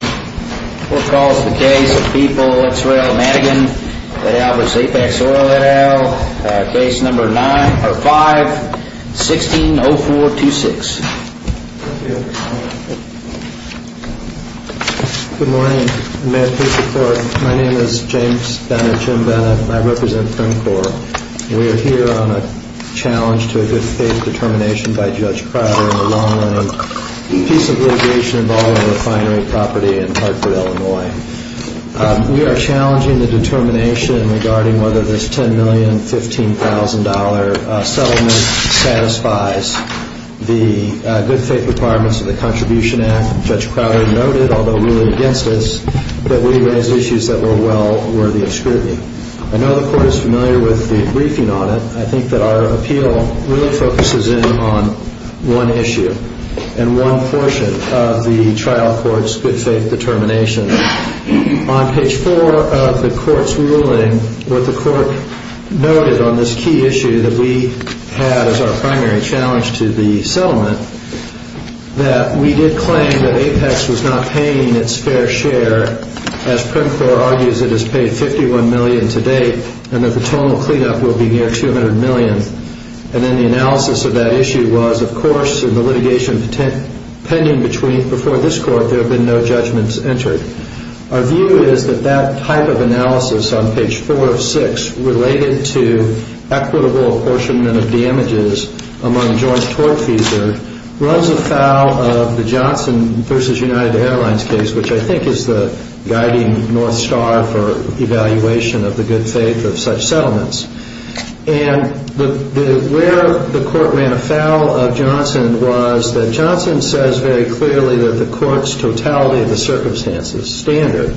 What calls the case of people ex rel. Madigan v. Apex Oil et al. Case number 5-160426. Good morning. May I please report. My name is James Bennett, Jim Bennett, and I represent Frim Corps. We are here on a challenge to a good faith determination by Judge Crowder in the long-running piece of litigation involving refinery property in Hartford, Illinois. We are challenging the determination regarding whether this $10,015,000 settlement satisfies the good faith requirements of the Contribution Act. Judge Crowder noted, although ruling against us, that we raised issues that were well worthy of scrutiny. I know the Court is familiar with the briefing on it. I think that our appeal really focuses in on one issue and one portion of the trial court's good faith determination. On page 4 of the court's ruling, what the court noted on this key issue that we had as our primary challenge to the settlement, that we did claim that Apex was not paying its fair share. As Frim Corps argues, it has paid $51 million to date, and that the total cleanup will be near $200 million. And then the analysis of that issue was, of course, in the litigation pending before this Court, there have been no judgments entered. Our view is that that type of analysis on page 4 of 6, related to equitable apportionment of damages among joint tort fees, runs afoul of the Johnson v. United Airlines case, which I think is the guiding North Star for evaluation of the good faith of such settlements. And where the court ran afoul of Johnson was that Johnson says very clearly that the court's totality of the circumstances standard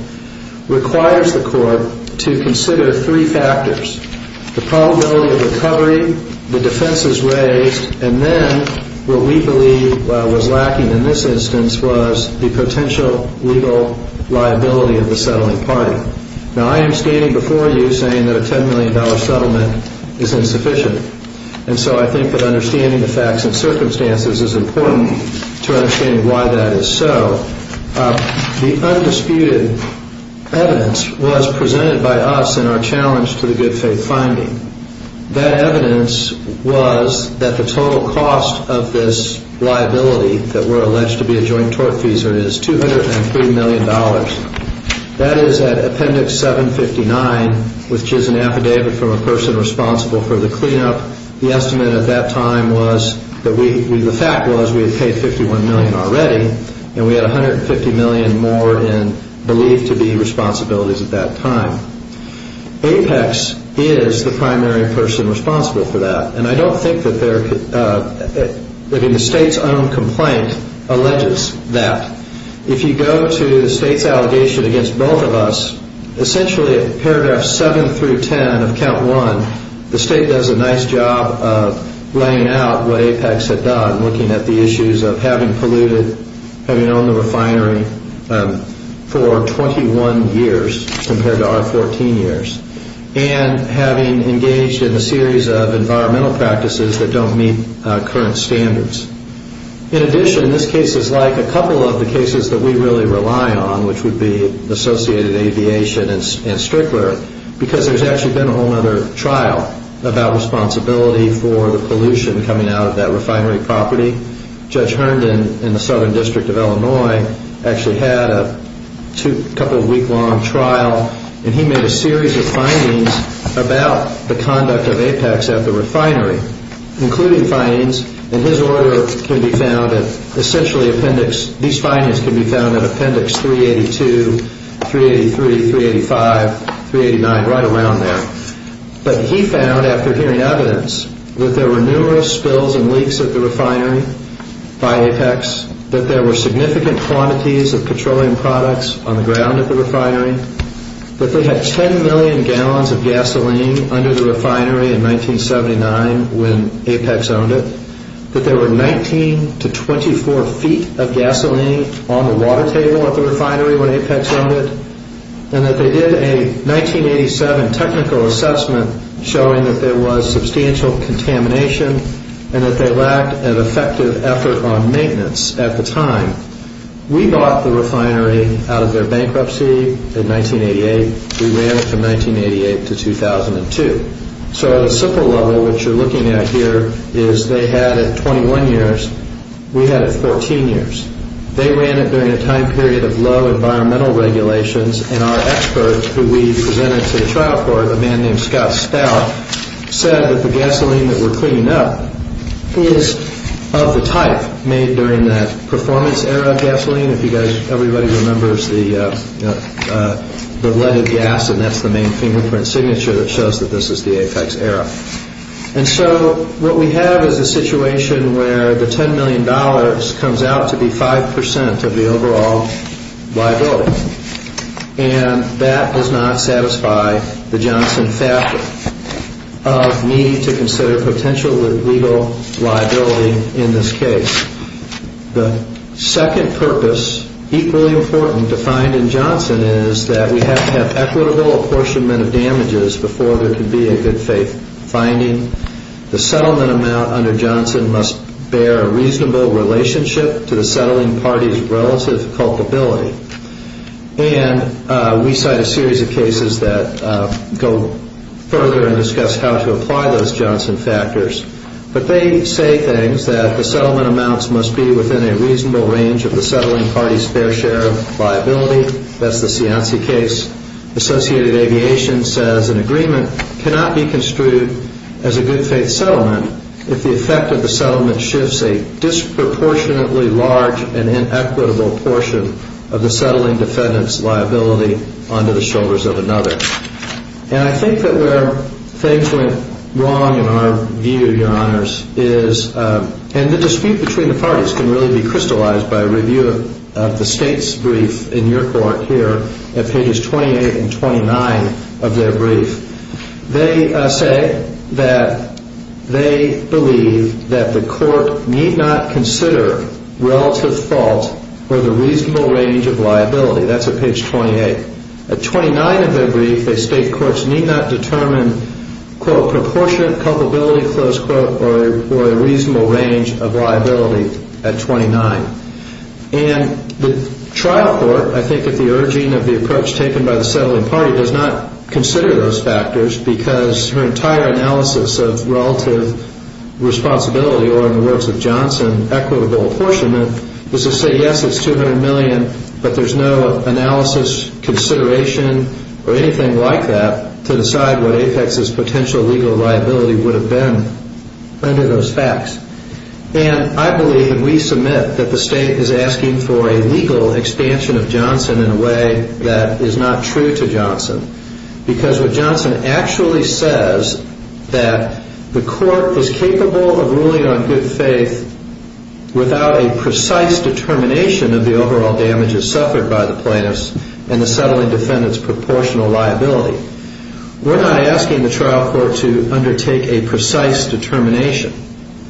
requires the court to consider three factors, the probability of recovery, the defenses raised, and then what we believe was lacking in this instance was the potential legal liability of the settling party. Now, I am standing before you saying that a $10 million settlement is insufficient, and so I think that understanding the facts and circumstances is important to understanding why that is so. The undisputed evidence was presented by us in our challenge to the good faith finding. That evidence was that the total cost of this liability that were alleged to be a joint tort fees is $203 million. That is at appendix 759, which is an affidavit from a person responsible for the cleanup. The estimate at that time was that we, the fact was we had paid $51 million already, and we had $150 million more in believed to be responsibilities at that time. Apex is the primary person responsible for that, and I don't think that they're, I mean the state's own complaint alleges that. If you go to the state's allegation against both of us, essentially at paragraph seven through ten of count one, the state does a nice job of laying out what Apex had done, looking at the issues of having polluted, having owned the refinery for 21 years compared to our 14 years, and having engaged in a series of environmental practices that don't meet current standards. In addition, this case is like a couple of the cases that we really rely on, which would be associated aviation and Strickler, because there's actually been a whole other trial about responsibility for the pollution coming out of that refinery property. Judge Herndon in the Southern District of Illinois actually had a couple of week long trial, and he made a series of findings about the conduct of Apex at the refinery, including findings, and his order can be found at essentially appendix, these findings can be found at appendix 382, 383, 385, 389, right around there. But he found after hearing evidence that there were numerous spills and leaks at the refinery by Apex, that there were significant quantities of petroleum products on the ground at the refinery, that they had 10 million gallons of gasoline under the refinery in 1979 when Apex owned it, that there were 19 to 24 feet of gasoline on the water table at the refinery when Apex owned it, and that they did a 1987 technical assessment showing that there was substantial contamination and that they lacked an effective effort on maintenance at the time. We bought the refinery out of their bankruptcy in 1988. We ran it from 1988 to 2002. So at a simple level, what you're looking at here is they had it 21 years. We had it 14 years. They ran it during a time period of low environmental regulations, and our experts who we presented to the trial court, a man named Scott Stout, said that the gasoline that we're cleaning up is of the type made during that performance era of gasoline. If you guys, everybody remembers the leaded gas, and that's the main fingerprint signature that shows that this is the Apex era. And so what we have is a situation where the $10 million comes out to be 5% of the overall liability, and that does not satisfy the Johnson factor of needing to consider potential legal liability in this case. The second purpose, equally important, defined in Johnson is that we have to have equitable apportionment of damages before there can be a good faith finding. The settlement amount under Johnson must bear a reasonable relationship to the settling party's relative culpability. And we cite a series of cases that go further and discuss how to apply those Johnson factors. But they say things that the settlement amounts must be within a reasonable range of the settling party's fair share of liability. That's the Cianci case. Associated Aviation says an agreement cannot be construed as a good faith settlement if the effect of the settlement shifts a disproportionately large and inequitable portion of the settling defendant's liability onto the shoulders of another. And I think that where things went wrong in our view, Your Honors, is, and the dispute between the parties can really be crystallized by a review of the state's brief in your court here at pages 28 and 29 of their brief. They say that they believe that the court need not consider relative fault or the reasonable range of liability. That's at page 28. At 29 of their brief, they state courts need not determine, quote, proportionate culpability, close quote, or a reasonable range of liability at 29. And the trial court, I think at the urging of the approach taken by the settling party, does not consider those factors because her entire analysis of relative responsibility or, in the words of Johnson, equitable apportionment, is to say, yes, it's $200 million, but there's no analysis, consideration, or anything like that to decide what Apex's potential legal liability would have been under those facts. And I believe and we submit that the state is asking for a legal expansion of Johnson in a way that is not true to Johnson because what Johnson actually says that the court is capable of ruling on good faith without a precise determination of the overall damages suffered by the plaintiffs and the settling defendant's proportional liability. We're not asking the trial court to undertake a precise determination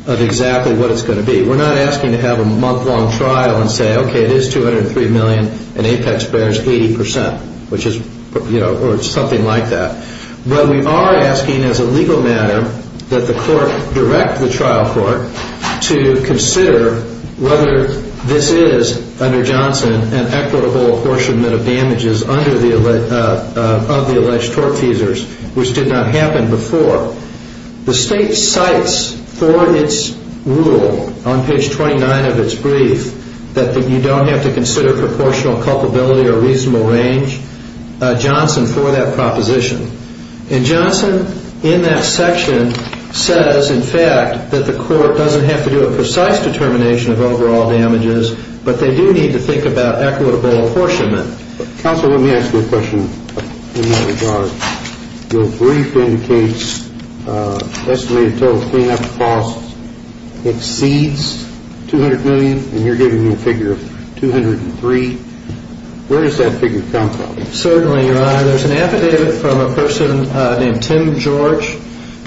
of exactly what it's going to be. We're not asking to have a month-long trial and say, okay, it is $203 million and Apex bears 80 percent, which is, you know, or something like that. But we are asking as a legal matter that the court direct the trial court to consider whether this is, under Johnson, an equitable apportionment of damages of the alleged tort feasors, which did not happen before. The state cites for its rule on page 29 of its brief that you don't have to consider proportional culpability or reasonable range Johnson for that proposition. And Johnson in that section says, in fact, that the court doesn't have to do a precise determination of overall damages, but they do need to think about equitable apportionment. Counsel, let me ask you a question in that regard. Your brief indicates estimated total cleanup costs exceeds $200 million, and you're giving me a figure of $203. Where does that figure come from? Certainly, Your Honor. There's an affidavit from a person named Tim George.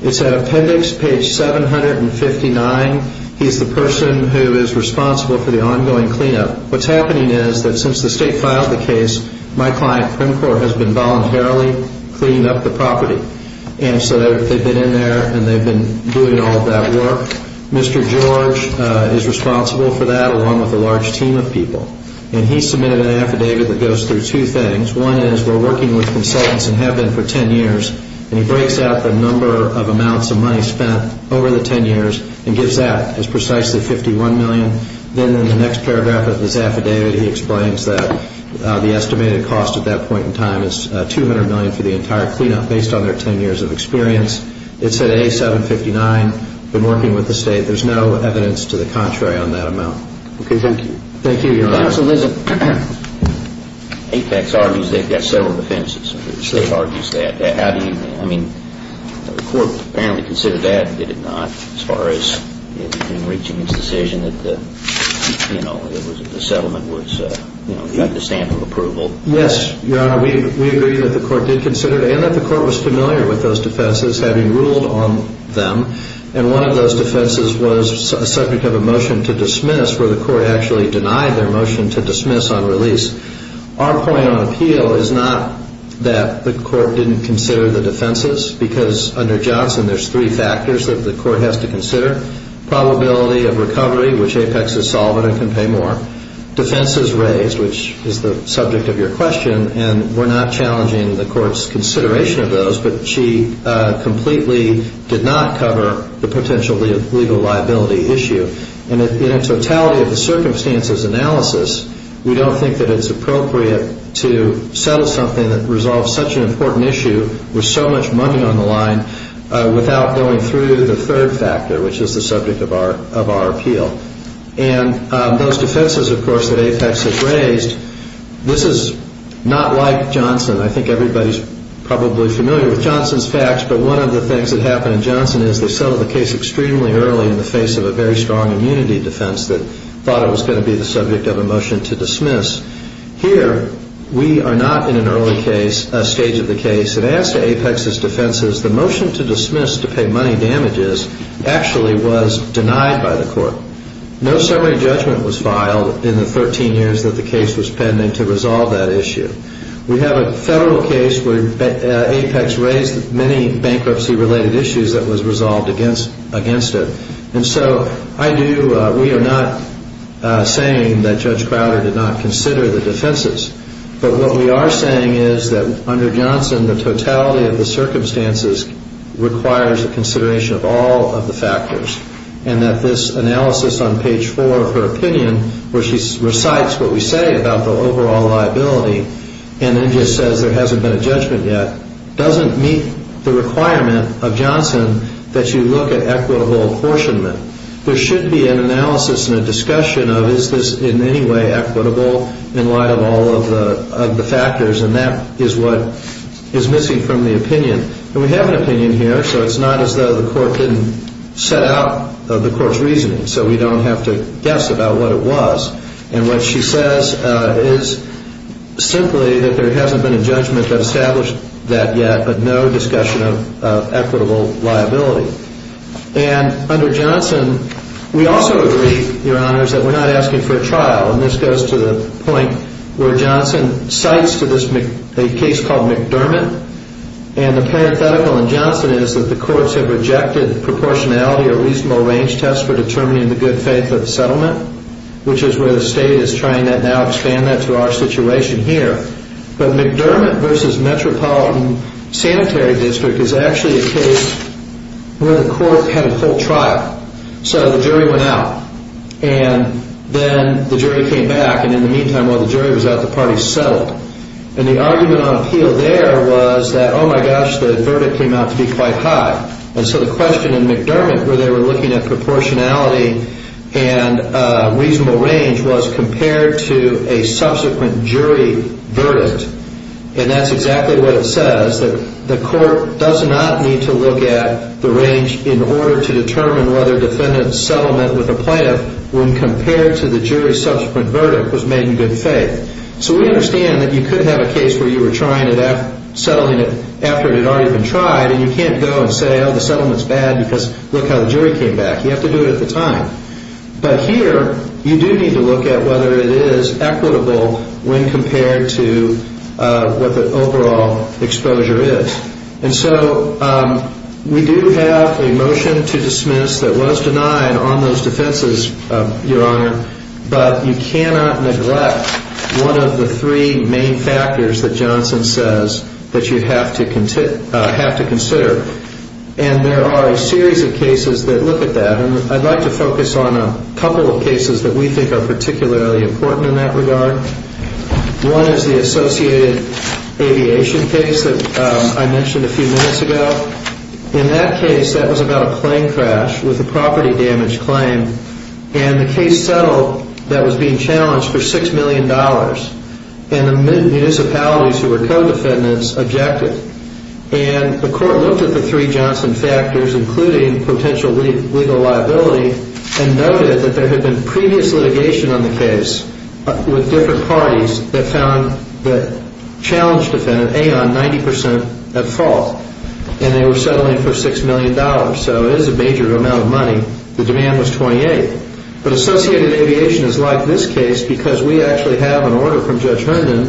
It's at appendix page 759. He's the person who is responsible for the ongoing cleanup. What's happening is that since the state filed the case, my client, PrimCorp, has been voluntarily cleaning up the property. And so they've been in there and they've been doing all of that work. Mr. George is responsible for that, along with a large team of people. And he submitted an affidavit that goes through two things. One is we're working with consultants and have been for 10 years, and he breaks out the number of amounts of money spent over the 10 years and gives that as precisely $51 million. Then in the next paragraph of his affidavit, he explains that the estimated cost at that point in time is $200 million for the entire cleanup based on their 10 years of experience. It's at A759, been working with the state. There's no evidence to the contrary on that amount. Okay, thank you. Thank you, Your Honor. Counsel, listen. Apex argues they've got several defenses. They've argued that. How do you, I mean, the court apparently considered that, did it not, as far as in reaching its decision that the settlement was, you know, got the stamp of approval? Yes, Your Honor, we agree that the court did consider that, and that the court was familiar with those defenses, having ruled on them. And one of those defenses was a subject of a motion to dismiss where the court actually denied their motion to dismiss on release. Our point on appeal is not that the court didn't consider the defenses because under Johnson there's three factors that the court has to consider, probability of recovery, which Apex has solved and can pay more, defenses raised, which is the subject of your question, and we're not challenging the court's consideration of those, but she completely did not cover the potential legal liability issue. And in a totality of the circumstances analysis, we don't think that it's appropriate to settle something that resolves such an important issue with so much money on the line without going through the third factor, which is the subject of our appeal. And those defenses, of course, that Apex has raised, this is not like Johnson. I think everybody's probably familiar with Johnson's facts, but one of the things that happened in Johnson is they settled the case extremely early in the face of a very strong immunity defense that thought it was going to be the subject of a motion to dismiss. Here we are not in an early stage of the case. And as to Apex's defenses, the motion to dismiss to pay money damages actually was denied by the court. No summary judgment was filed in the 13 years that the case was pending to resolve that issue. We have a federal case where Apex raised many bankruptcy-related issues that was resolved against it. And so we are not saying that Judge Crowder did not consider the defenses. But what we are saying is that under Johnson, the totality of the circumstances requires the consideration of all of the factors and that this analysis on page 4 of her opinion, where she recites what we say about the overall liability and then just says there hasn't been a judgment yet, doesn't meet the requirement of Johnson that you look at equitable apportionment. There should be an analysis and a discussion of is this in any way equitable in light of all of the factors, and that is what is missing from the opinion. And we have an opinion here, so it's not as though the court didn't set out the court's reasoning so we don't have to guess about what it was. And what she says is simply that there hasn't been a judgment that established that yet, but no discussion of equitable liability. And under Johnson, we also agree, Your Honors, that we're not asking for a trial, and this goes to the point where Johnson cites a case called McDermott. And the parenthetical in Johnson is that the courts have rejected proportionality or reasonable range tests for determining the good faith of settlement, which is where the state is trying to now expand that to our situation here. But McDermott v. Metropolitan Sanitary District is actually a case where the court had a full trial. So the jury went out, and then the jury came back. And in the meantime, while the jury was out, the parties settled. And the argument on appeal there was that, oh, my gosh, the verdict came out to be quite high. And so the question in McDermott where they were looking at proportionality and reasonable range was compared to a subsequent jury verdict. And that's exactly what it says, that the court does not need to look at the range in order to determine whether defendants' settlement with a plaintiff when compared to the jury's subsequent verdict was made in good faith. So we understand that you could have a case where you were trying at settling it after it had already been tried, and you can't go and say, oh, the settlement's bad because look how the jury came back. You have to do it at the time. But here you do need to look at whether it is equitable when compared to what the overall exposure is. And so we do have a motion to dismiss that was denied on those defenses, Your Honor, but you cannot neglect one of the three main factors that Johnson says that you have to consider, and there are a series of cases that look at that. And I'd like to focus on a couple of cases that we think are particularly important in that regard. One is the associated aviation case that I mentioned a few minutes ago. In that case, that was about a plane crash with a property damage claim, and the case settled that was being challenged for $6 million. And the municipalities who were co-defendants objected. And the court looked at the three Johnson factors, including potential legal liability, and noted that there had been previous litigation on the case with different parties that found the challenged defendant, Aon, 90 percent at fault, and they were settling for $6 million. So it is a major amount of money. The demand was 28. But associated aviation is like this case because we actually have an order from Judge Herndon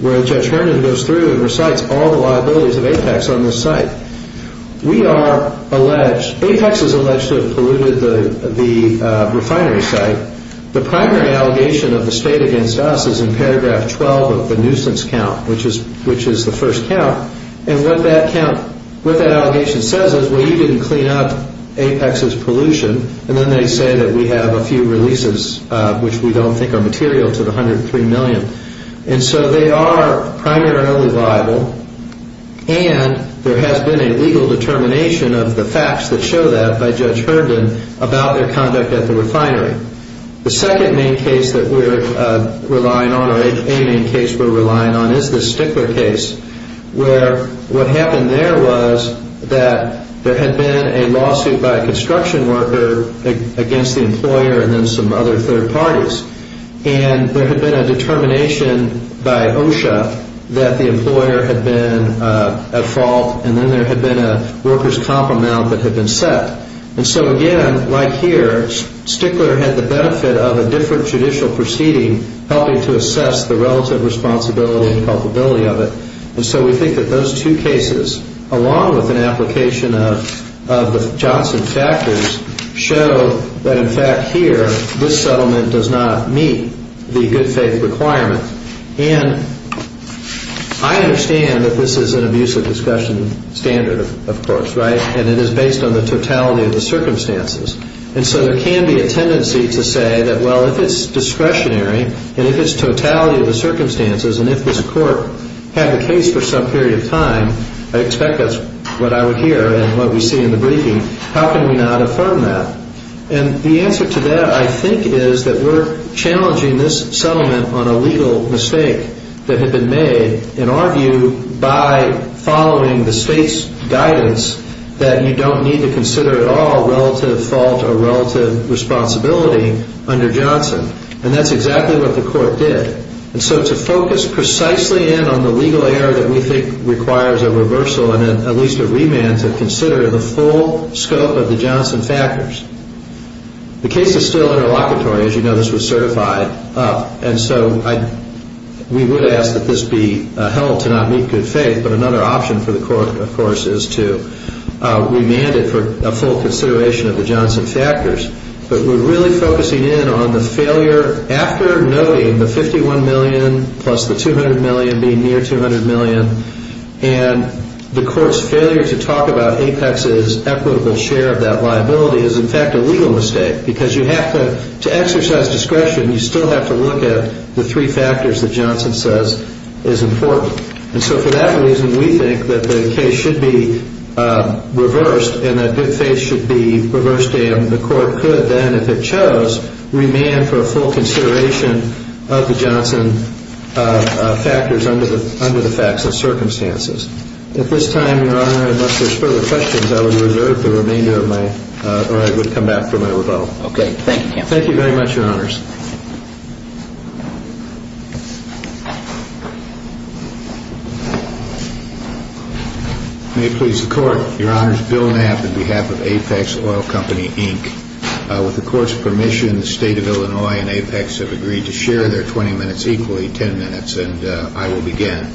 where Judge Herndon goes through and recites all the liabilities of Apex on this site. Apex is alleged to have polluted the refinery site. The primary allegation of the state against us is in paragraph 12 of the nuisance count, which is the first count, and what that allegation says is, well, you didn't clean up Apex's pollution, and then they say that we have a few releases which we don't think are material to the $103 million. And so they are primarily liable, and there has been a legal determination of the facts that show that by Judge Herndon about their conduct at the refinery. The second main case that we're relying on, or a main case we're relying on, is the Stickler case where what happened there was that there had been a lawsuit by a construction worker against the employer and then some other third parties. And there had been a determination by OSHA that the employer had been at fault, and then there had been a workers' comp amount that had been set. And so again, like here, Stickler had the benefit of a different judicial proceeding helping to assess the relative responsibility and culpability of it. And so we think that those two cases, along with an application of the Johnson factors, show that in fact here this settlement does not meet the good faith requirement. And I understand that this is an abusive discretion standard, of course, right? And it is based on the totality of the circumstances. And so there can be a tendency to say that, well, if it's discretionary and if it's totality of the circumstances and if this court had the case for some period of time, I expect that's what I would hear and what we see in the briefing, how can we not affirm that? And the answer to that, I think, is that we're challenging this settlement on a legal mistake that had been made, in our view, by following the state's guidance that you don't need to consider at all relative fault or relative responsibility under Johnson. And that's exactly what the court did. And so to focus precisely in on the legal error that we think requires a reversal and at least a remand to consider the full scope of the Johnson factors. The case is still interlocutory. As you know, this was certified. And so we would ask that this be held to not meet good faith. But another option for the court, of course, is to remand it for a full consideration of the Johnson factors. But we're really focusing in on the failure after noting the $51 million plus the $200 million being near $200 million. And the court's failure to talk about Apex's equitable share of that liability is, in fact, a legal mistake. Because you have to exercise discretion. You still have to look at the three factors that Johnson says is important. And so for that reason, we think that the case should be reversed and that good faith should be reversed. And the court could then, if it chose, remand for a full consideration of the Johnson factors under the facts and circumstances. At this time, Your Honor, unless there's further questions, I would reserve the remainder of my or I would come back for my rebuttal. Okay. Thank you, counsel. Thank you very much, Your Honors. May it please the court. Your Honors, Bill Knapp on behalf of Apex Oil Company, Inc. With the court's permission, the State of Illinois and Apex have agreed to share their 20 minutes equally, 10 minutes. And I will begin.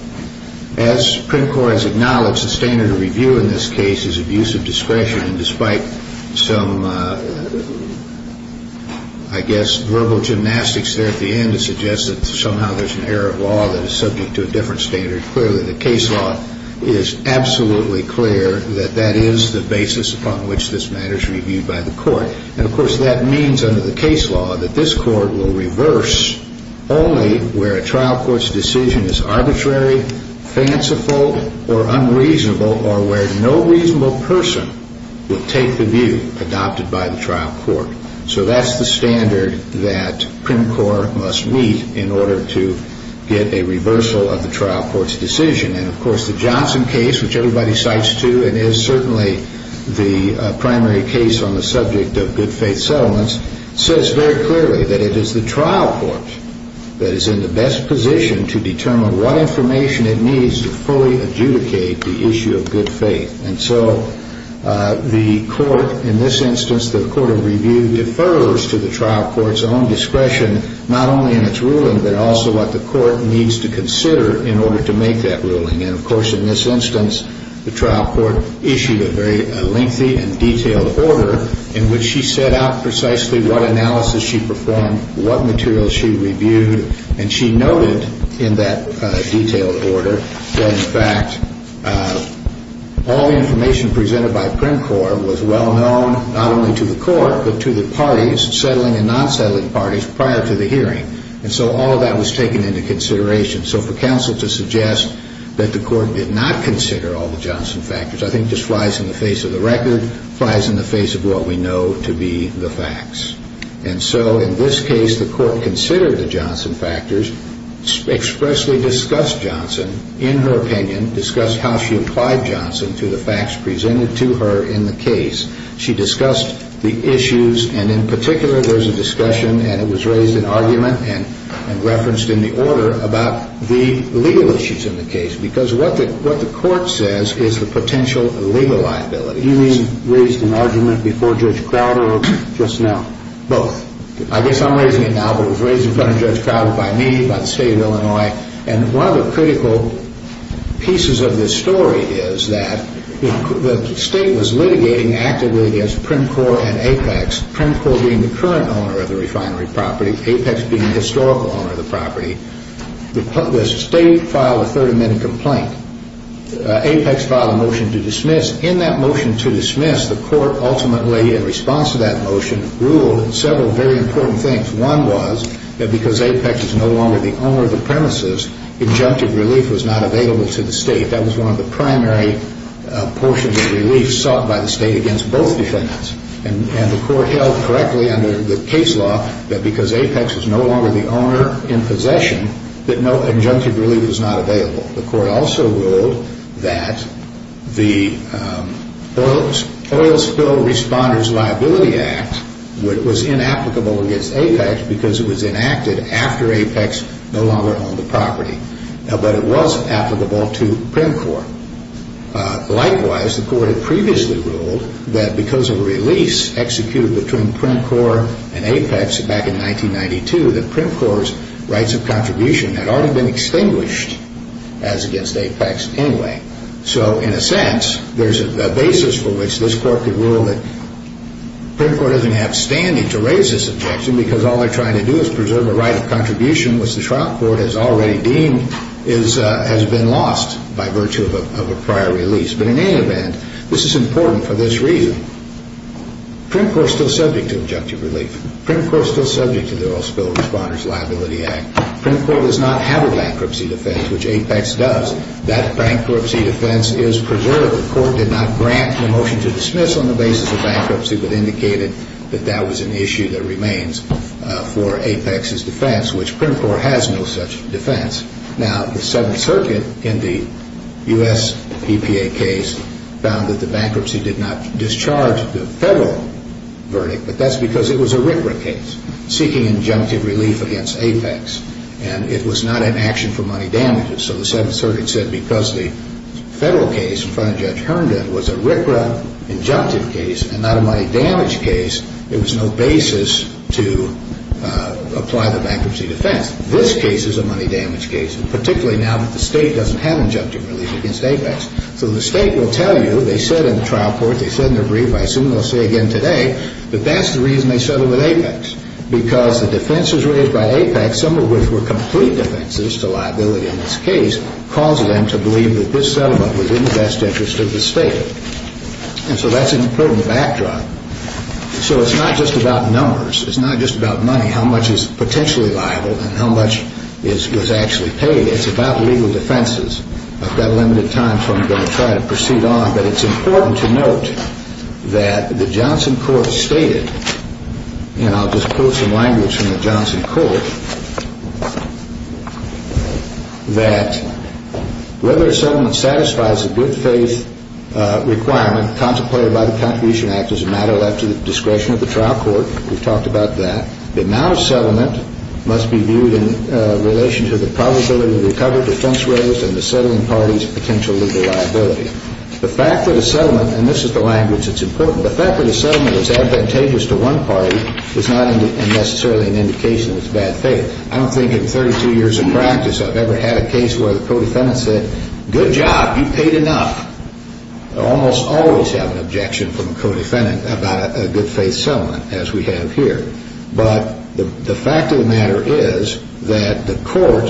As Print Corps has acknowledged, the standard of review in this case is abuse of discretion. And despite some, I guess, verbal gymnastics there at the end to suggest that somehow there's an error of law that is subject to a different standard, clearly the case law is absolutely clear that that is the basis upon which this matter is reviewed by the court. And, of course, that means under the case law that this court will reverse only where a trial court's decision is arbitrary, fanciful, or unreasonable, or where no reasonable person would take the view adopted by the trial court. So that's the standard that Print Corps must meet in order to get a reversal of the trial court's decision. And, of course, the Johnson case, which everybody cites, too, and is certainly the primary case on the subject of good-faith settlements, says very clearly that it is the trial court that is in the best position to determine what information it needs to fully adjudicate the issue of good faith. And so the court in this instance, the court of review, defers to the trial court's own discretion not only in its ruling, but also what the court needs to consider in order to make that ruling. And, of course, in this instance, the trial court issued a very lengthy and detailed order in which she set out precisely what analysis she performed, what materials she reviewed, and she noted in that detailed order that, in fact, all the information presented by Print Corps was well known not only to the court but to the parties, settling and non-settling parties, prior to the hearing. And so all of that was taken into consideration. So for counsel to suggest that the court did not consider all the Johnson factors I think just flies in the face of the record, flies in the face of what we know to be the facts. And so in this case, the court considered the Johnson factors, expressly discussed Johnson in her opinion, discussed how she applied Johnson to the facts presented to her in the case. She discussed the issues, and in particular there's a discussion and it was raised in argument and referenced in the order about the legal issues in the case because what the court says is the potential legal liability. You mean raised in argument before Judge Crowder or just now? Both. I guess I'm raising it now, but it was raised in front of Judge Crowder, by me, by the state of Illinois. And one of the critical pieces of this story is that the state was litigating actively against Print Corps and Apex, Print Corps being the current owner of the refinery property, Apex being the historical owner of the property. The state filed a 30-minute complaint. Apex filed a motion to dismiss. In that motion to dismiss, the court ultimately, in response to that motion, ruled several very important things. One was that because Apex is no longer the owner of the premises, injunctive relief was not available to the state. That was one of the primary portions of relief sought by the state against both defendants. And the court held correctly under the case law that because Apex is no longer the owner in possession, that no injunctive relief was not available. The court also ruled that the Oil Spill Responders Liability Act was inapplicable against Apex because it was enacted after Apex no longer owned the property. But it was applicable to Print Corps. Likewise, the court had previously ruled that because of a release executed between Print Corps and Apex back in 1992, that Print Corps' rights of contribution had already been extinguished, as against Apex anyway. So in a sense, there's a basis for which this court could rule that Print Corps doesn't have standing to raise this objection because all they're trying to do is preserve a right of contribution which the trial court has already deemed has been lost by virtue of a prior release. But in any event, this is important for this reason. Print Corps is still subject to injunctive relief. Print Corps is still subject to the Oil Spill Responders Liability Act. Print Corps does not have a bankruptcy defense, which Apex does. That bankruptcy defense is preserved. The court did not grant the motion to dismiss on the basis of bankruptcy, but indicated that that was an issue that remains for Apex's defense, which Print Corps has no such defense. Now, the Seventh Circuit in the U.S. EPA case found that the bankruptcy did not discharge the federal verdict, but that's because it was a RCRA case seeking injunctive relief against Apex, and it was not an action for money damages. So the Seventh Circuit said because the federal case in front of Judge Herndon was a RCRA injunctive case and not a money damage case, there was no basis to apply the bankruptcy defense. This case is a money damage case, particularly now that the State doesn't have injunctive relief against Apex. So the State will tell you, they said in the trial court, they said in their brief, I assume they'll say again today, that that's the reason they settled with Apex because the defenses raised by Apex, some of which were complete defenses to liability in this case, causes them to believe that this settlement was in the best interest of the State. And so that's an important backdrop. So it's not just about numbers. It's not just about money, how much is potentially liable and how much is actually paid. It's about legal defenses. I've got limited time, so I'm going to try to proceed on. But it's important to note that the Johnson court stated, and I'll just pull some language from the Johnson court, that whether a settlement satisfies a good faith requirement contemplated by the Contribution Act which is a matter left to the discretion of the trial court, we've talked about that, the amount of settlement must be viewed in relation to the probability of recovery defense raised and the settling party's potential legal liability. The fact that a settlement, and this is the language that's important, the fact that a settlement is advantageous to one party is not necessarily an indication that it's bad faith. I don't think in 32 years of practice I've ever had a case where the codefendant said, good job, you paid enough. I almost always have an objection from a codefendant about a good faith settlement as we have here. But the fact of the matter is that the court,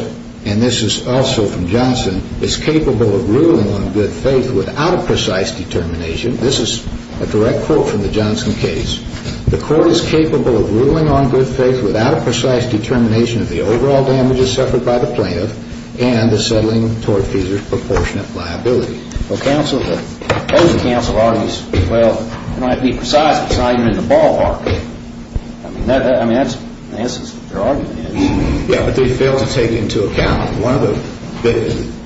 and this is also from Johnson, is capable of ruling on good faith without a precise determination. This is a direct quote from the Johnson case. The court is capable of ruling on good faith without a precise determination of the overall damages suffered by the plaintiff and the settling tortfeasor's proportionate liability. Well, counsel, the counsel argues, well, it might be precise, but it's not even in the ballpark. I mean, that's the essence of their argument. Yeah, but they fail to take into account one of the,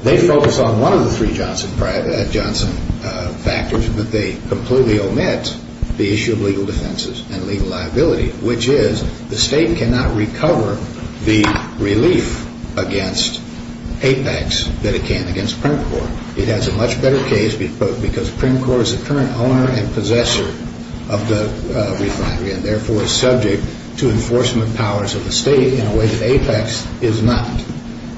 they focus on one of the three Johnson factors, but they completely omit the issue of legal defenses and legal liability, which is the state cannot recover the relief against APEX that it can against PrimCorp. It has a much better case because PrimCorp is the current owner and possessor of the refinery and therefore is subject to enforcement powers of the state in a way that APEX is not.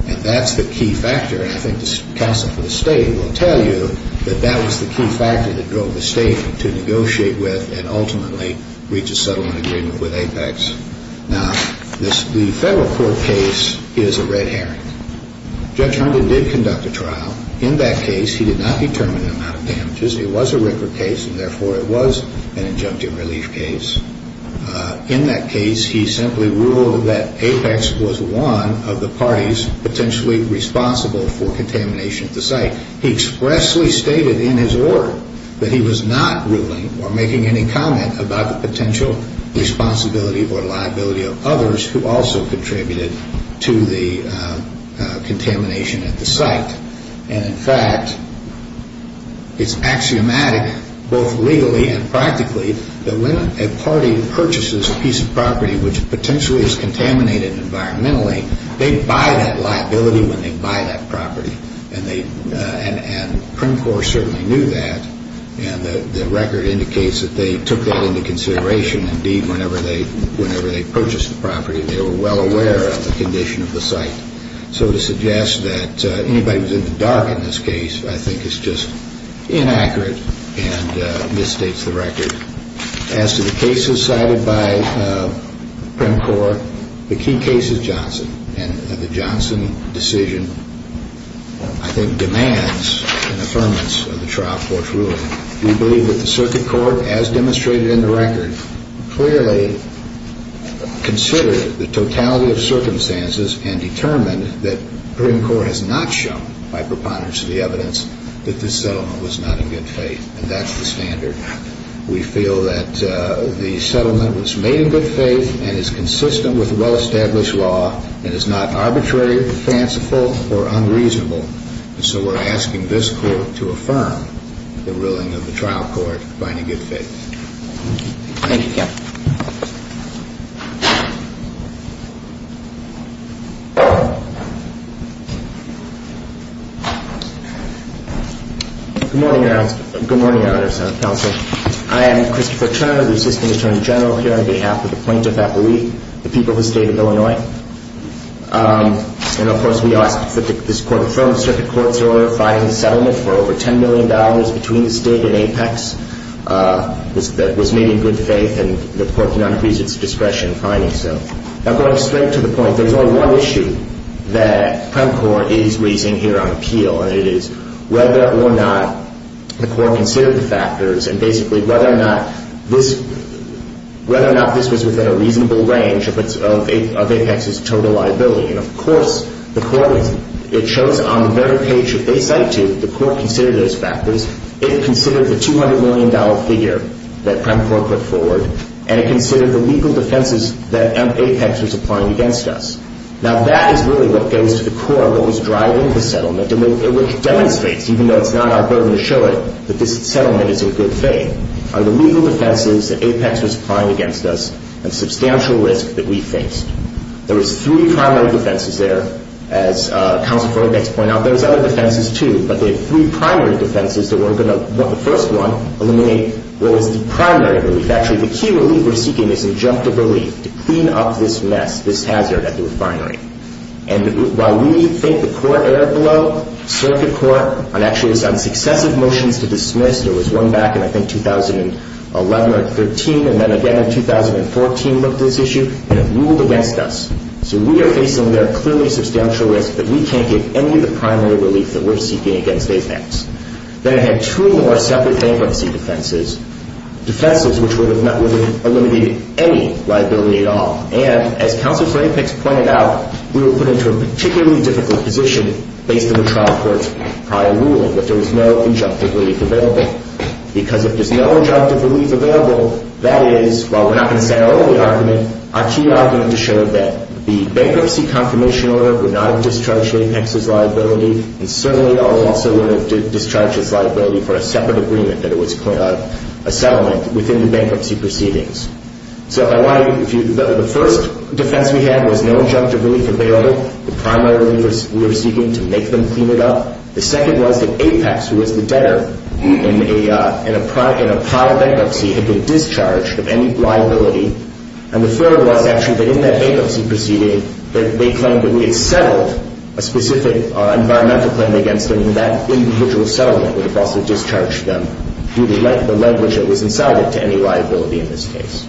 And that's the key factor, and I think the counsel for the state will tell you that that was the key factor that drove the state to negotiate with and ultimately reach a settlement agreement with APEX. Now, the federal court case is a red herring. Judge Hunter did conduct a trial. In that case, he did not determine the amount of damages. It was a record case, and therefore it was an injunctive relief case. In that case, he simply ruled that APEX was one of the parties potentially responsible for contamination at the site. He expressly stated in his order that he was not ruling or making any comment about the potential responsibility or liability of others who also contributed to the contamination at the site. And, in fact, it's axiomatic both legally and practically that when a party purchases a piece of property which potentially is contaminated environmentally, they buy that liability when they buy that property. And Prim Corp certainly knew that, and the record indicates that they took that into consideration. Indeed, whenever they purchased the property, they were well aware of the condition of the site. So to suggest that anybody was in the dark in this case I think is just inaccurate and misstates the record. As to the cases cited by Prim Corp, the key case is Johnson, and the Johnson decision I think demands an affirmance of the trial court's ruling. We believe that the circuit court, as demonstrated in the record, clearly considered the totality of circumstances and determined that Prim Corp has not shown, by preponderance of the evidence, that this settlement was not in good faith. And that's the standard. We feel that the settlement was made in good faith and is consistent with well-established law and is not arbitrary, fanciful, or unreasonable. And so we're asking this court to affirm the ruling of the trial court by any good faith. Thank you, Captain. Good morning, Your Honor. Good morning, Your Honor's counsel. I am Christopher Turner, the Assistant Attorney General, here on behalf of the plaintiff, I believe, the people of the State of Illinois. And, of course, we ask that this court affirm the circuit court's ruling for over $10 million between the State and Apex that was made in good faith and the court cannot increase its discretion in finding so. Now, going straight to the point, there's only one issue that Prim Corp is raising here on appeal, and it is whether or not the court considered the factors and, basically, whether or not this was within a reasonable range of Apex's total liability. And, of course, it shows on their page that they cite to that the court considered those factors. It considered the $200 million figure that Prim Corp put forward, and it considered the legal defenses that Apex was applying against us. Now, that is really what goes to the court, what was driving the settlement, and which demonstrates, even though it's not our burden to show it, that this settlement is in good faith, are the legal defenses that Apex was applying against us and substantial risk that we faced. There was three primary defenses there. As Counsel for Apex pointed out, there was other defenses, too, but they had three primary defenses that weren't going to, but the first one eliminated what was the primary relief. Actually, the key relief we're seeking is injunctive relief to clean up this mess, this hazard at the refinery. And while we think the court erred below circuit court on, actually, on successive motions to dismiss, there was one back in, I think, 2011 or 2013, and then again in 2014 looked at this issue, and it ruled against us. So we are facing there clearly substantial risk that we can't get any of the primary relief that we're seeking against Apex. Then it had two more separate bankruptcy defenses, defenses which would have eliminated any liability at all. And as Counsel for Apex pointed out, we were put into a particularly difficult position based on the trial court's prior ruling that there was no injunctive relief available, because if there's no injunctive relief available, that is, while we're not going to say our only argument, our key argument to show that the bankruptcy confirmation order would not have discharged Apex's liability, and certainly also would have discharged his liability for a separate agreement that it was a settlement within the bankruptcy proceedings. So the first defense we had was no injunctive relief available, the primary relief we were seeking to make them clean it up. The second was that Apex, who was the debtor in a prior bankruptcy, had been discharged of any liability. And the third was actually that in that bankruptcy proceeding, they claimed that we had settled a specific environmental claim against them, and that individual settlement would have also discharged them due to the leverage that was incited to any liability in this case.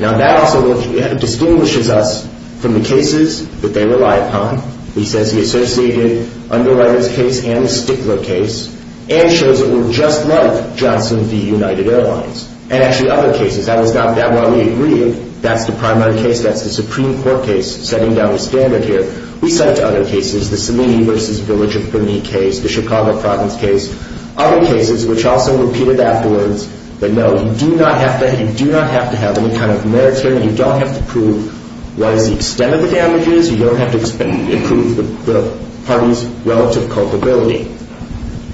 Now, that also distinguishes us from the cases that they rely upon. He says he associated Underwriter's case and the Stigler case, and shows it were just like Johnson v. United Airlines. And actually, other cases, that was not that one we agreed, that's the primary case, that's the Supreme Court case, setting down the standard here. We cite other cases, the Salini v. Village of Berni case, the Chicago Province case, other cases which also repeated afterwards, but no, you do not have to have any kind of merit here, and you don't have to prove what is the extent of the damages, you don't have to prove the party's relative culpability.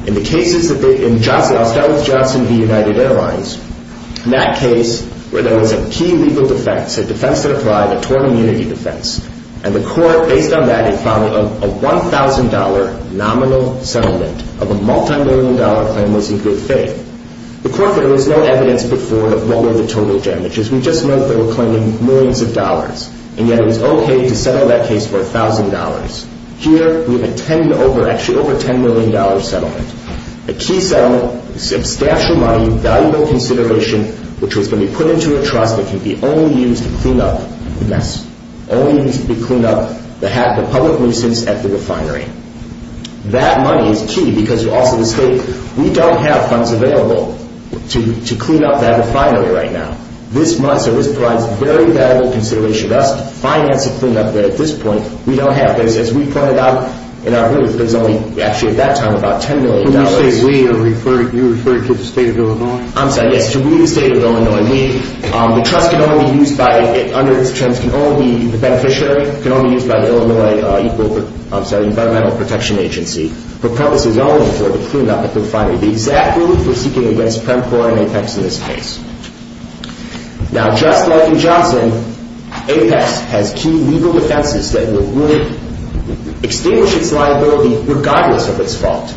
In the cases that they, in Johnson, I'll start with Johnson v. United Airlines. In that case, where there was a key legal defect, a defense that applied, a torn immunity defense, and the court, based on that, had found that a $1,000 nominal settlement of a multimillion-dollar claim was in good faith. The court said there was no evidence before of what were the total damages, we just know that they were claiming millions of dollars, and yet it was okay to settle that case for $1,000. Here, we have a $10 million settlement. A key settlement, substantial money, valuable consideration, which was going to be put into a trust that could be only used to clean up the mess, only used to clean up the public nuisance at the refinery. That money is key, because you also mistake, we don't have funds available to clean up that refinery right now. This month, so this provides very valuable consideration to us to finance a cleanup that, at this point, we don't have. As we pointed out in our group, there's only, actually at that time, about $10 million. When you say we, are you referring to the state of Illinois? I'm sorry, yes, to we, the state of Illinois. The trust can only be used by, under these terms, can only be, the beneficiary can only be used by the Illinois Environmental Protection Agency for purposes only for the cleanup at the refinery. The exact relief we're seeking against PREMCORP and APEX in this case. Now, just like in Johnson, APEX has key legal defenses that would extinguish its liability regardless of its fault,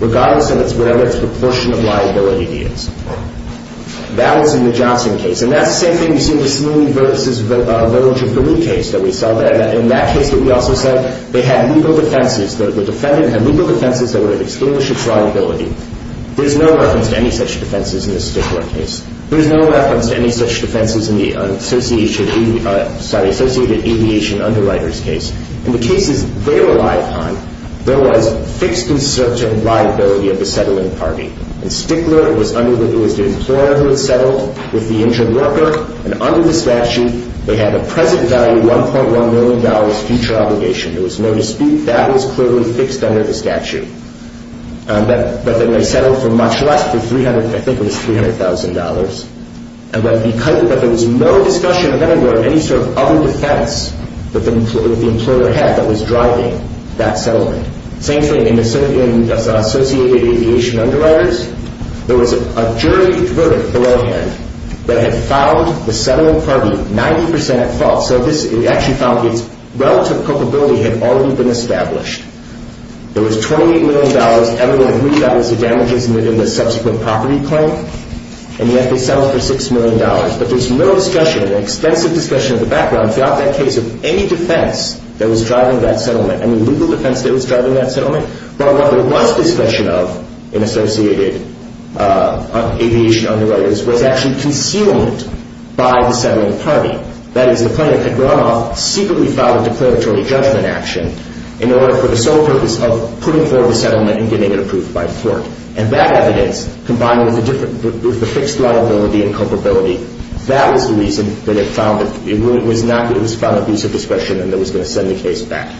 regardless of whatever its proportion of liability is. That was in the Johnson case. And that's the same thing you see in the Salooni versus Village of Gilead case that we saw there. In that case that we also said, they had legal defenses. The defendant had legal defenses that would have extinguished its liability. There's no reference to any such defenses in the Stickler case. There's no reference to any such defenses in the Associated Aviation Underwriters case. In the cases they relied upon, there was fixed and certain liability of the settling party. In Stickler, it was the employer who had settled with the injured worker. And under the statute, they had a present value $1.1 million future obligation. There was no dispute. That was clearly fixed under the statute. But then they settled for much less, for $300,000, I think it was $300,000. But there was no discussion of any sort of other defense that the employer had that was driving that settlement. Same thing in the Associated Aviation Underwriters. There was a jury verdict belowhand that had found the settling party 90% at fault. So this actually found its relative culpability had already been established. There was $28 million. Everyone agreed that was the damages within the subsequent property claim. And yet they settled for $6 million. But there's no discussion, an extensive discussion in the background throughout that case of any defense that was driving that settlement, any legal defense that was driving that settlement. But what there was discussion of in Associated Aviation Underwriters was actually concealed by the settling party. That is, the plaintiff had run off, secretly filed a declaratory judgment action in order for the sole purpose of putting forward the settlement and getting it approved by the court. And that evidence, combined with the fixed liability and culpability, that was the reason that it was found abusive discretion and that was going to send the case back.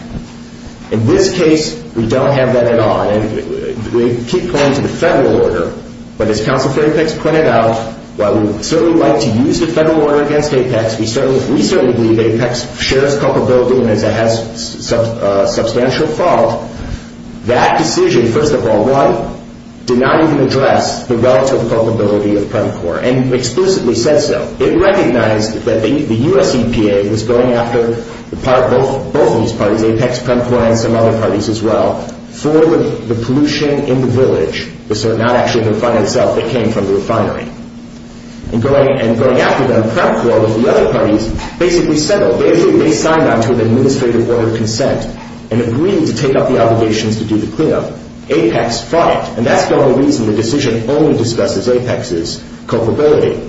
In this case, we don't have that at all. And we keep playing to the federal order. But as Counsel for APEX pointed out, while we would certainly like to use the federal order against APEX, we certainly believe APEX shares culpability and has substantial fault. That decision, first of all, did not even address the relative culpability of PEMCOR and exclusively said so. It recognized that the U.S. EPA was going after both of these parties, APEX, PEMCOR, and some other parties as well, for the pollution in the village, so not actually the refinery itself. It came from the refinery. And going after them, PEMCOR, with the other parties, basically settled. They signed on to an administrative order of consent and agreed to take up the obligations to do the cleanup. APEX fought it. And that's the only reason the decision only discusses APEX's culpability.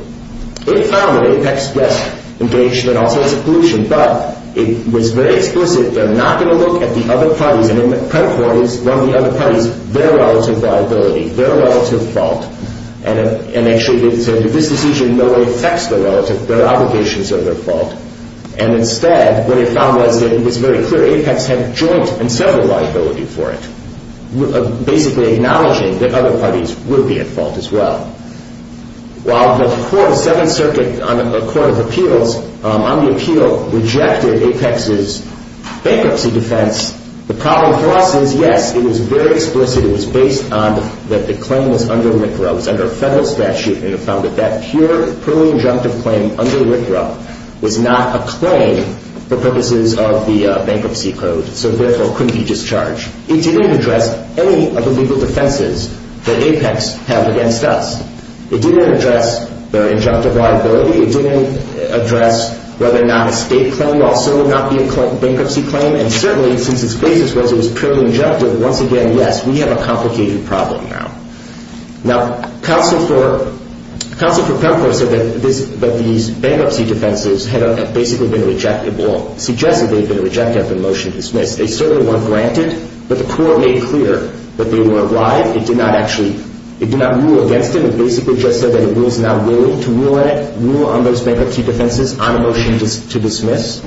It found that APEX was engaged in all sorts of pollution, but it was very explicit. They're not going to look at the other parties, and PEMCOR is one of the other parties, their relative liability, their relative fault, and actually said that this decision no way affects the relative. Their obligations are their fault. And instead, what it found was that it was very clear APEX had joint and several liability for it, basically acknowledging that other parties would be at fault as well. While the Seventh Circuit Court of Appeals on the appeal rejected APEX's bankruptcy defense, the problem for us is, yes, it was very explicit. It was based on that the claim was under RCRA. It was under a federal statute, and it found that that pure, purely injunctive claim under RCRA was not a claim for purposes of the bankruptcy code, so therefore couldn't be discharged. It didn't address any of the legal defenses that APEX had against us. It didn't address their injunctive liability. It didn't address whether or not a state claim also would not be a bankruptcy claim. And certainly, since its basis was it was purely injunctive, once again, yes, we have a complicated problem now. Now, counsel for PEMCOR said that these bankruptcy defenses had basically been rejected, or suggested they had been rejected after the motion was dismissed. They certainly weren't granted, but the court made clear that they were alive. It did not rule against it. It basically just said that it was not willing to rule on it, rule on those bankruptcy defenses on a motion to dismiss,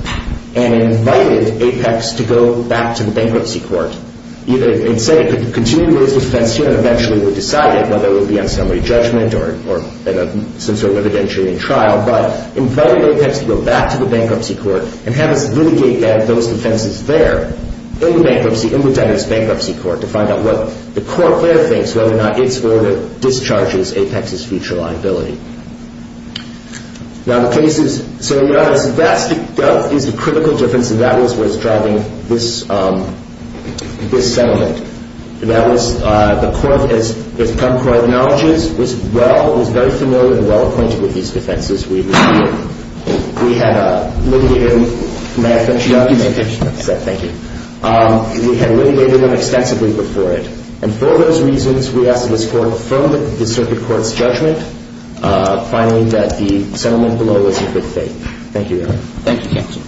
and invited APEX to go back to the bankruptcy court. It said it could continue to raise defense here, and eventually it would decide it, whether it would be on summary judgment or some sort of evidentiary in trial, but invited APEX to go back to the bankruptcy court and have us litigate those defenses there, in the bankruptcy, in the debtors bankruptcy court, to find out what the court there thinks, whether or not it's where it discharges APEX's future liability. Now, the cases, so that is the critical difference, and that is what is driving this settlement. The court has come to our knowledges, was well, was very familiar and well acquainted with these defenses. We had litigated them extensively before it, and for those reasons, we ask that this court affirm the circuit court's judgment, finding that the settlement below was in good faith. Thank you, Your Honor. Thank you, Captain.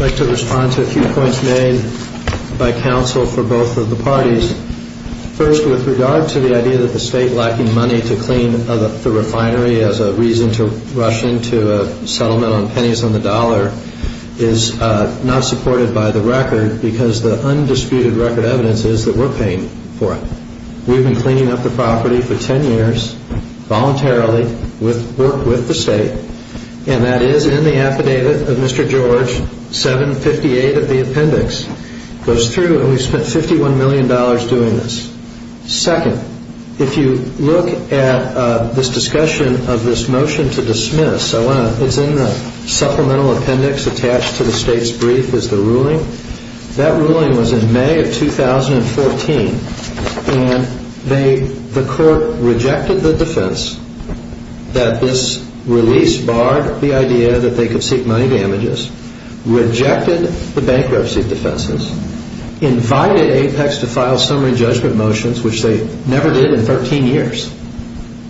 I'd like to respond to a few points made by counsel for both of the parties. First, with regard to the idea that the state lacking money to clean the refinery as a reason to rush into a settlement on pennies on the dollar is not supported by the record, because the undisputed record evidence is that we're paying for it. We've been cleaning up the property for 10 years voluntarily with work with the state, and that is in the affidavit of Mr. George, 758 of the appendix. It goes through, and we've spent $51 million doing this. Second, if you look at this discussion of this motion to dismiss, it's in the supplemental appendix attached to the state's brief is the ruling. That ruling was in May of 2014, and the court rejected the defense that this release barred the idea that they could seek money damages, rejected the bankruptcy defenses, invited Apex to file summary judgment motions, which they never did in 13 years.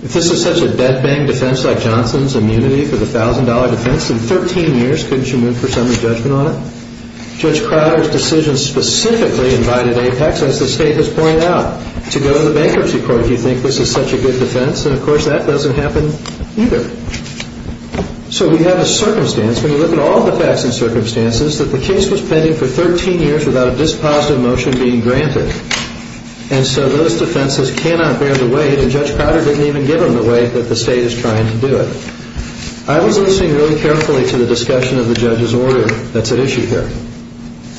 If this is such a dead-bang defense like Johnson's immunity for the $1,000 defense, in 13 years couldn't you move for summary judgment on it? Judge Crowder's decision specifically invited Apex, as the state has pointed out, to go to the bankruptcy court if you think this is such a good defense, and of course that doesn't happen either. So we have a circumstance, when you look at all the facts and circumstances, that the case was pending for 13 years without a dispositive motion being granted. And so those defenses cannot bear the weight, and Judge Crowder didn't even give them the weight that the state is trying to do it. I was listening really carefully to the discussion of the judge's order that's at issue here.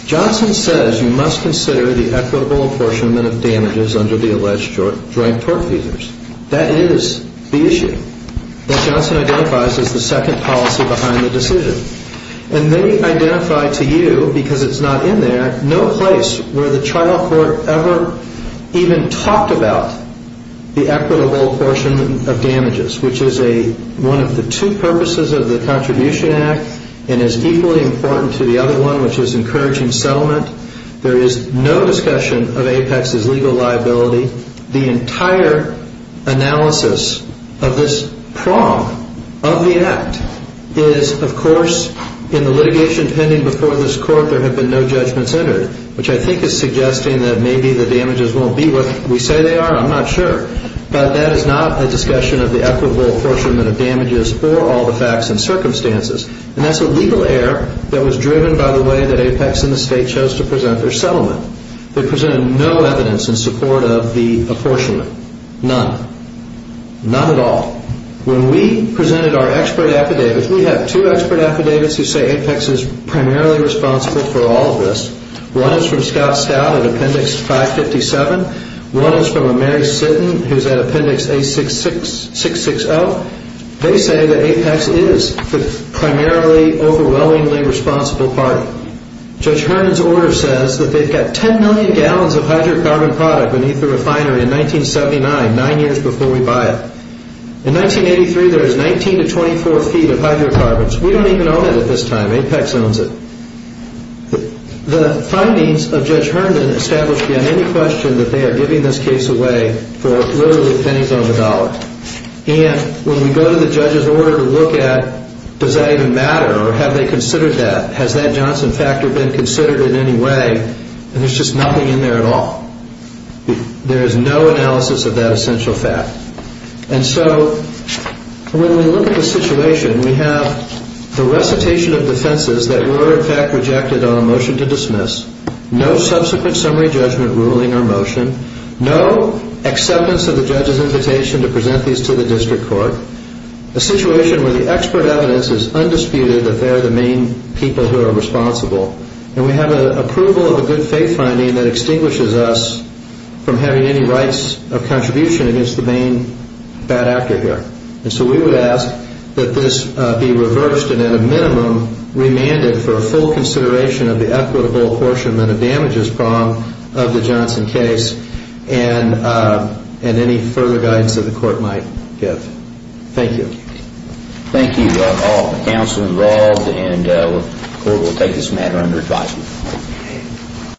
Johnson says you must consider the equitable apportionment of damages under the alleged joint court feasors. That is the issue that Johnson identifies as the second policy behind the decision. And they identify to you, because it's not in there, no place where the trial court ever even talked about the equitable apportionment of damages, which is one of the two purposes of the Contribution Act and is equally important to the other one, which is encouraging settlement. There is no discussion of Apex's legal liability. The entire analysis of this prong of the act is, of course, in the litigation pending before this court there have been no judgments entered, which I think is suggesting that maybe the damages won't be what we say they are. I'm not sure. But that is not the discussion of the equitable apportionment of damages or all the facts and circumstances. And that's a legal error that was driven by the way that Apex and the state chose to present their settlement. They presented no evidence in support of the apportionment, none, none at all. When we presented our expert affidavits, we have two expert affidavits who say Apex is primarily responsible for all of this. One is from Scott Stout at Appendix 557. One is from a Mary Sitton who's at Appendix 660. They say that Apex is the primarily overwhelmingly responsible party. Judge Herman's order says that they've got 10 million gallons of hydrocarbon product beneath the refinery in 1979, nine years before we buy it. In 1983, there is 19 to 24 feet of hydrocarbons. We don't even own it at this time. Apex owns it. The findings of Judge Herman establish beyond any question that they are giving this case away for literally pennies on the dollar. And when we go to the judge's order to look at does that even matter or have they considered that, has that Johnson factor been considered in any way, there's just nothing in there at all. There is no analysis of that essential fact. And so when we look at the situation, we have the recitation of defenses that were in fact rejected on a motion to dismiss, no subsequent summary judgment ruling or motion, no acceptance of the judge's invitation to present these to the district court, a situation where the expert evidence is undisputed that they're the main people who are responsible, and we have an approval of a good faith finding that extinguishes us from having any rights of contribution against the main bad actor here. And so we would ask that this be reversed and at a minimum remanded for a full consideration of the equitable apportionment of damages from the Johnson case and any further guidance that the court might give. Thank you. Thank you all, the counsel involved, and the court will take this matter under advisory.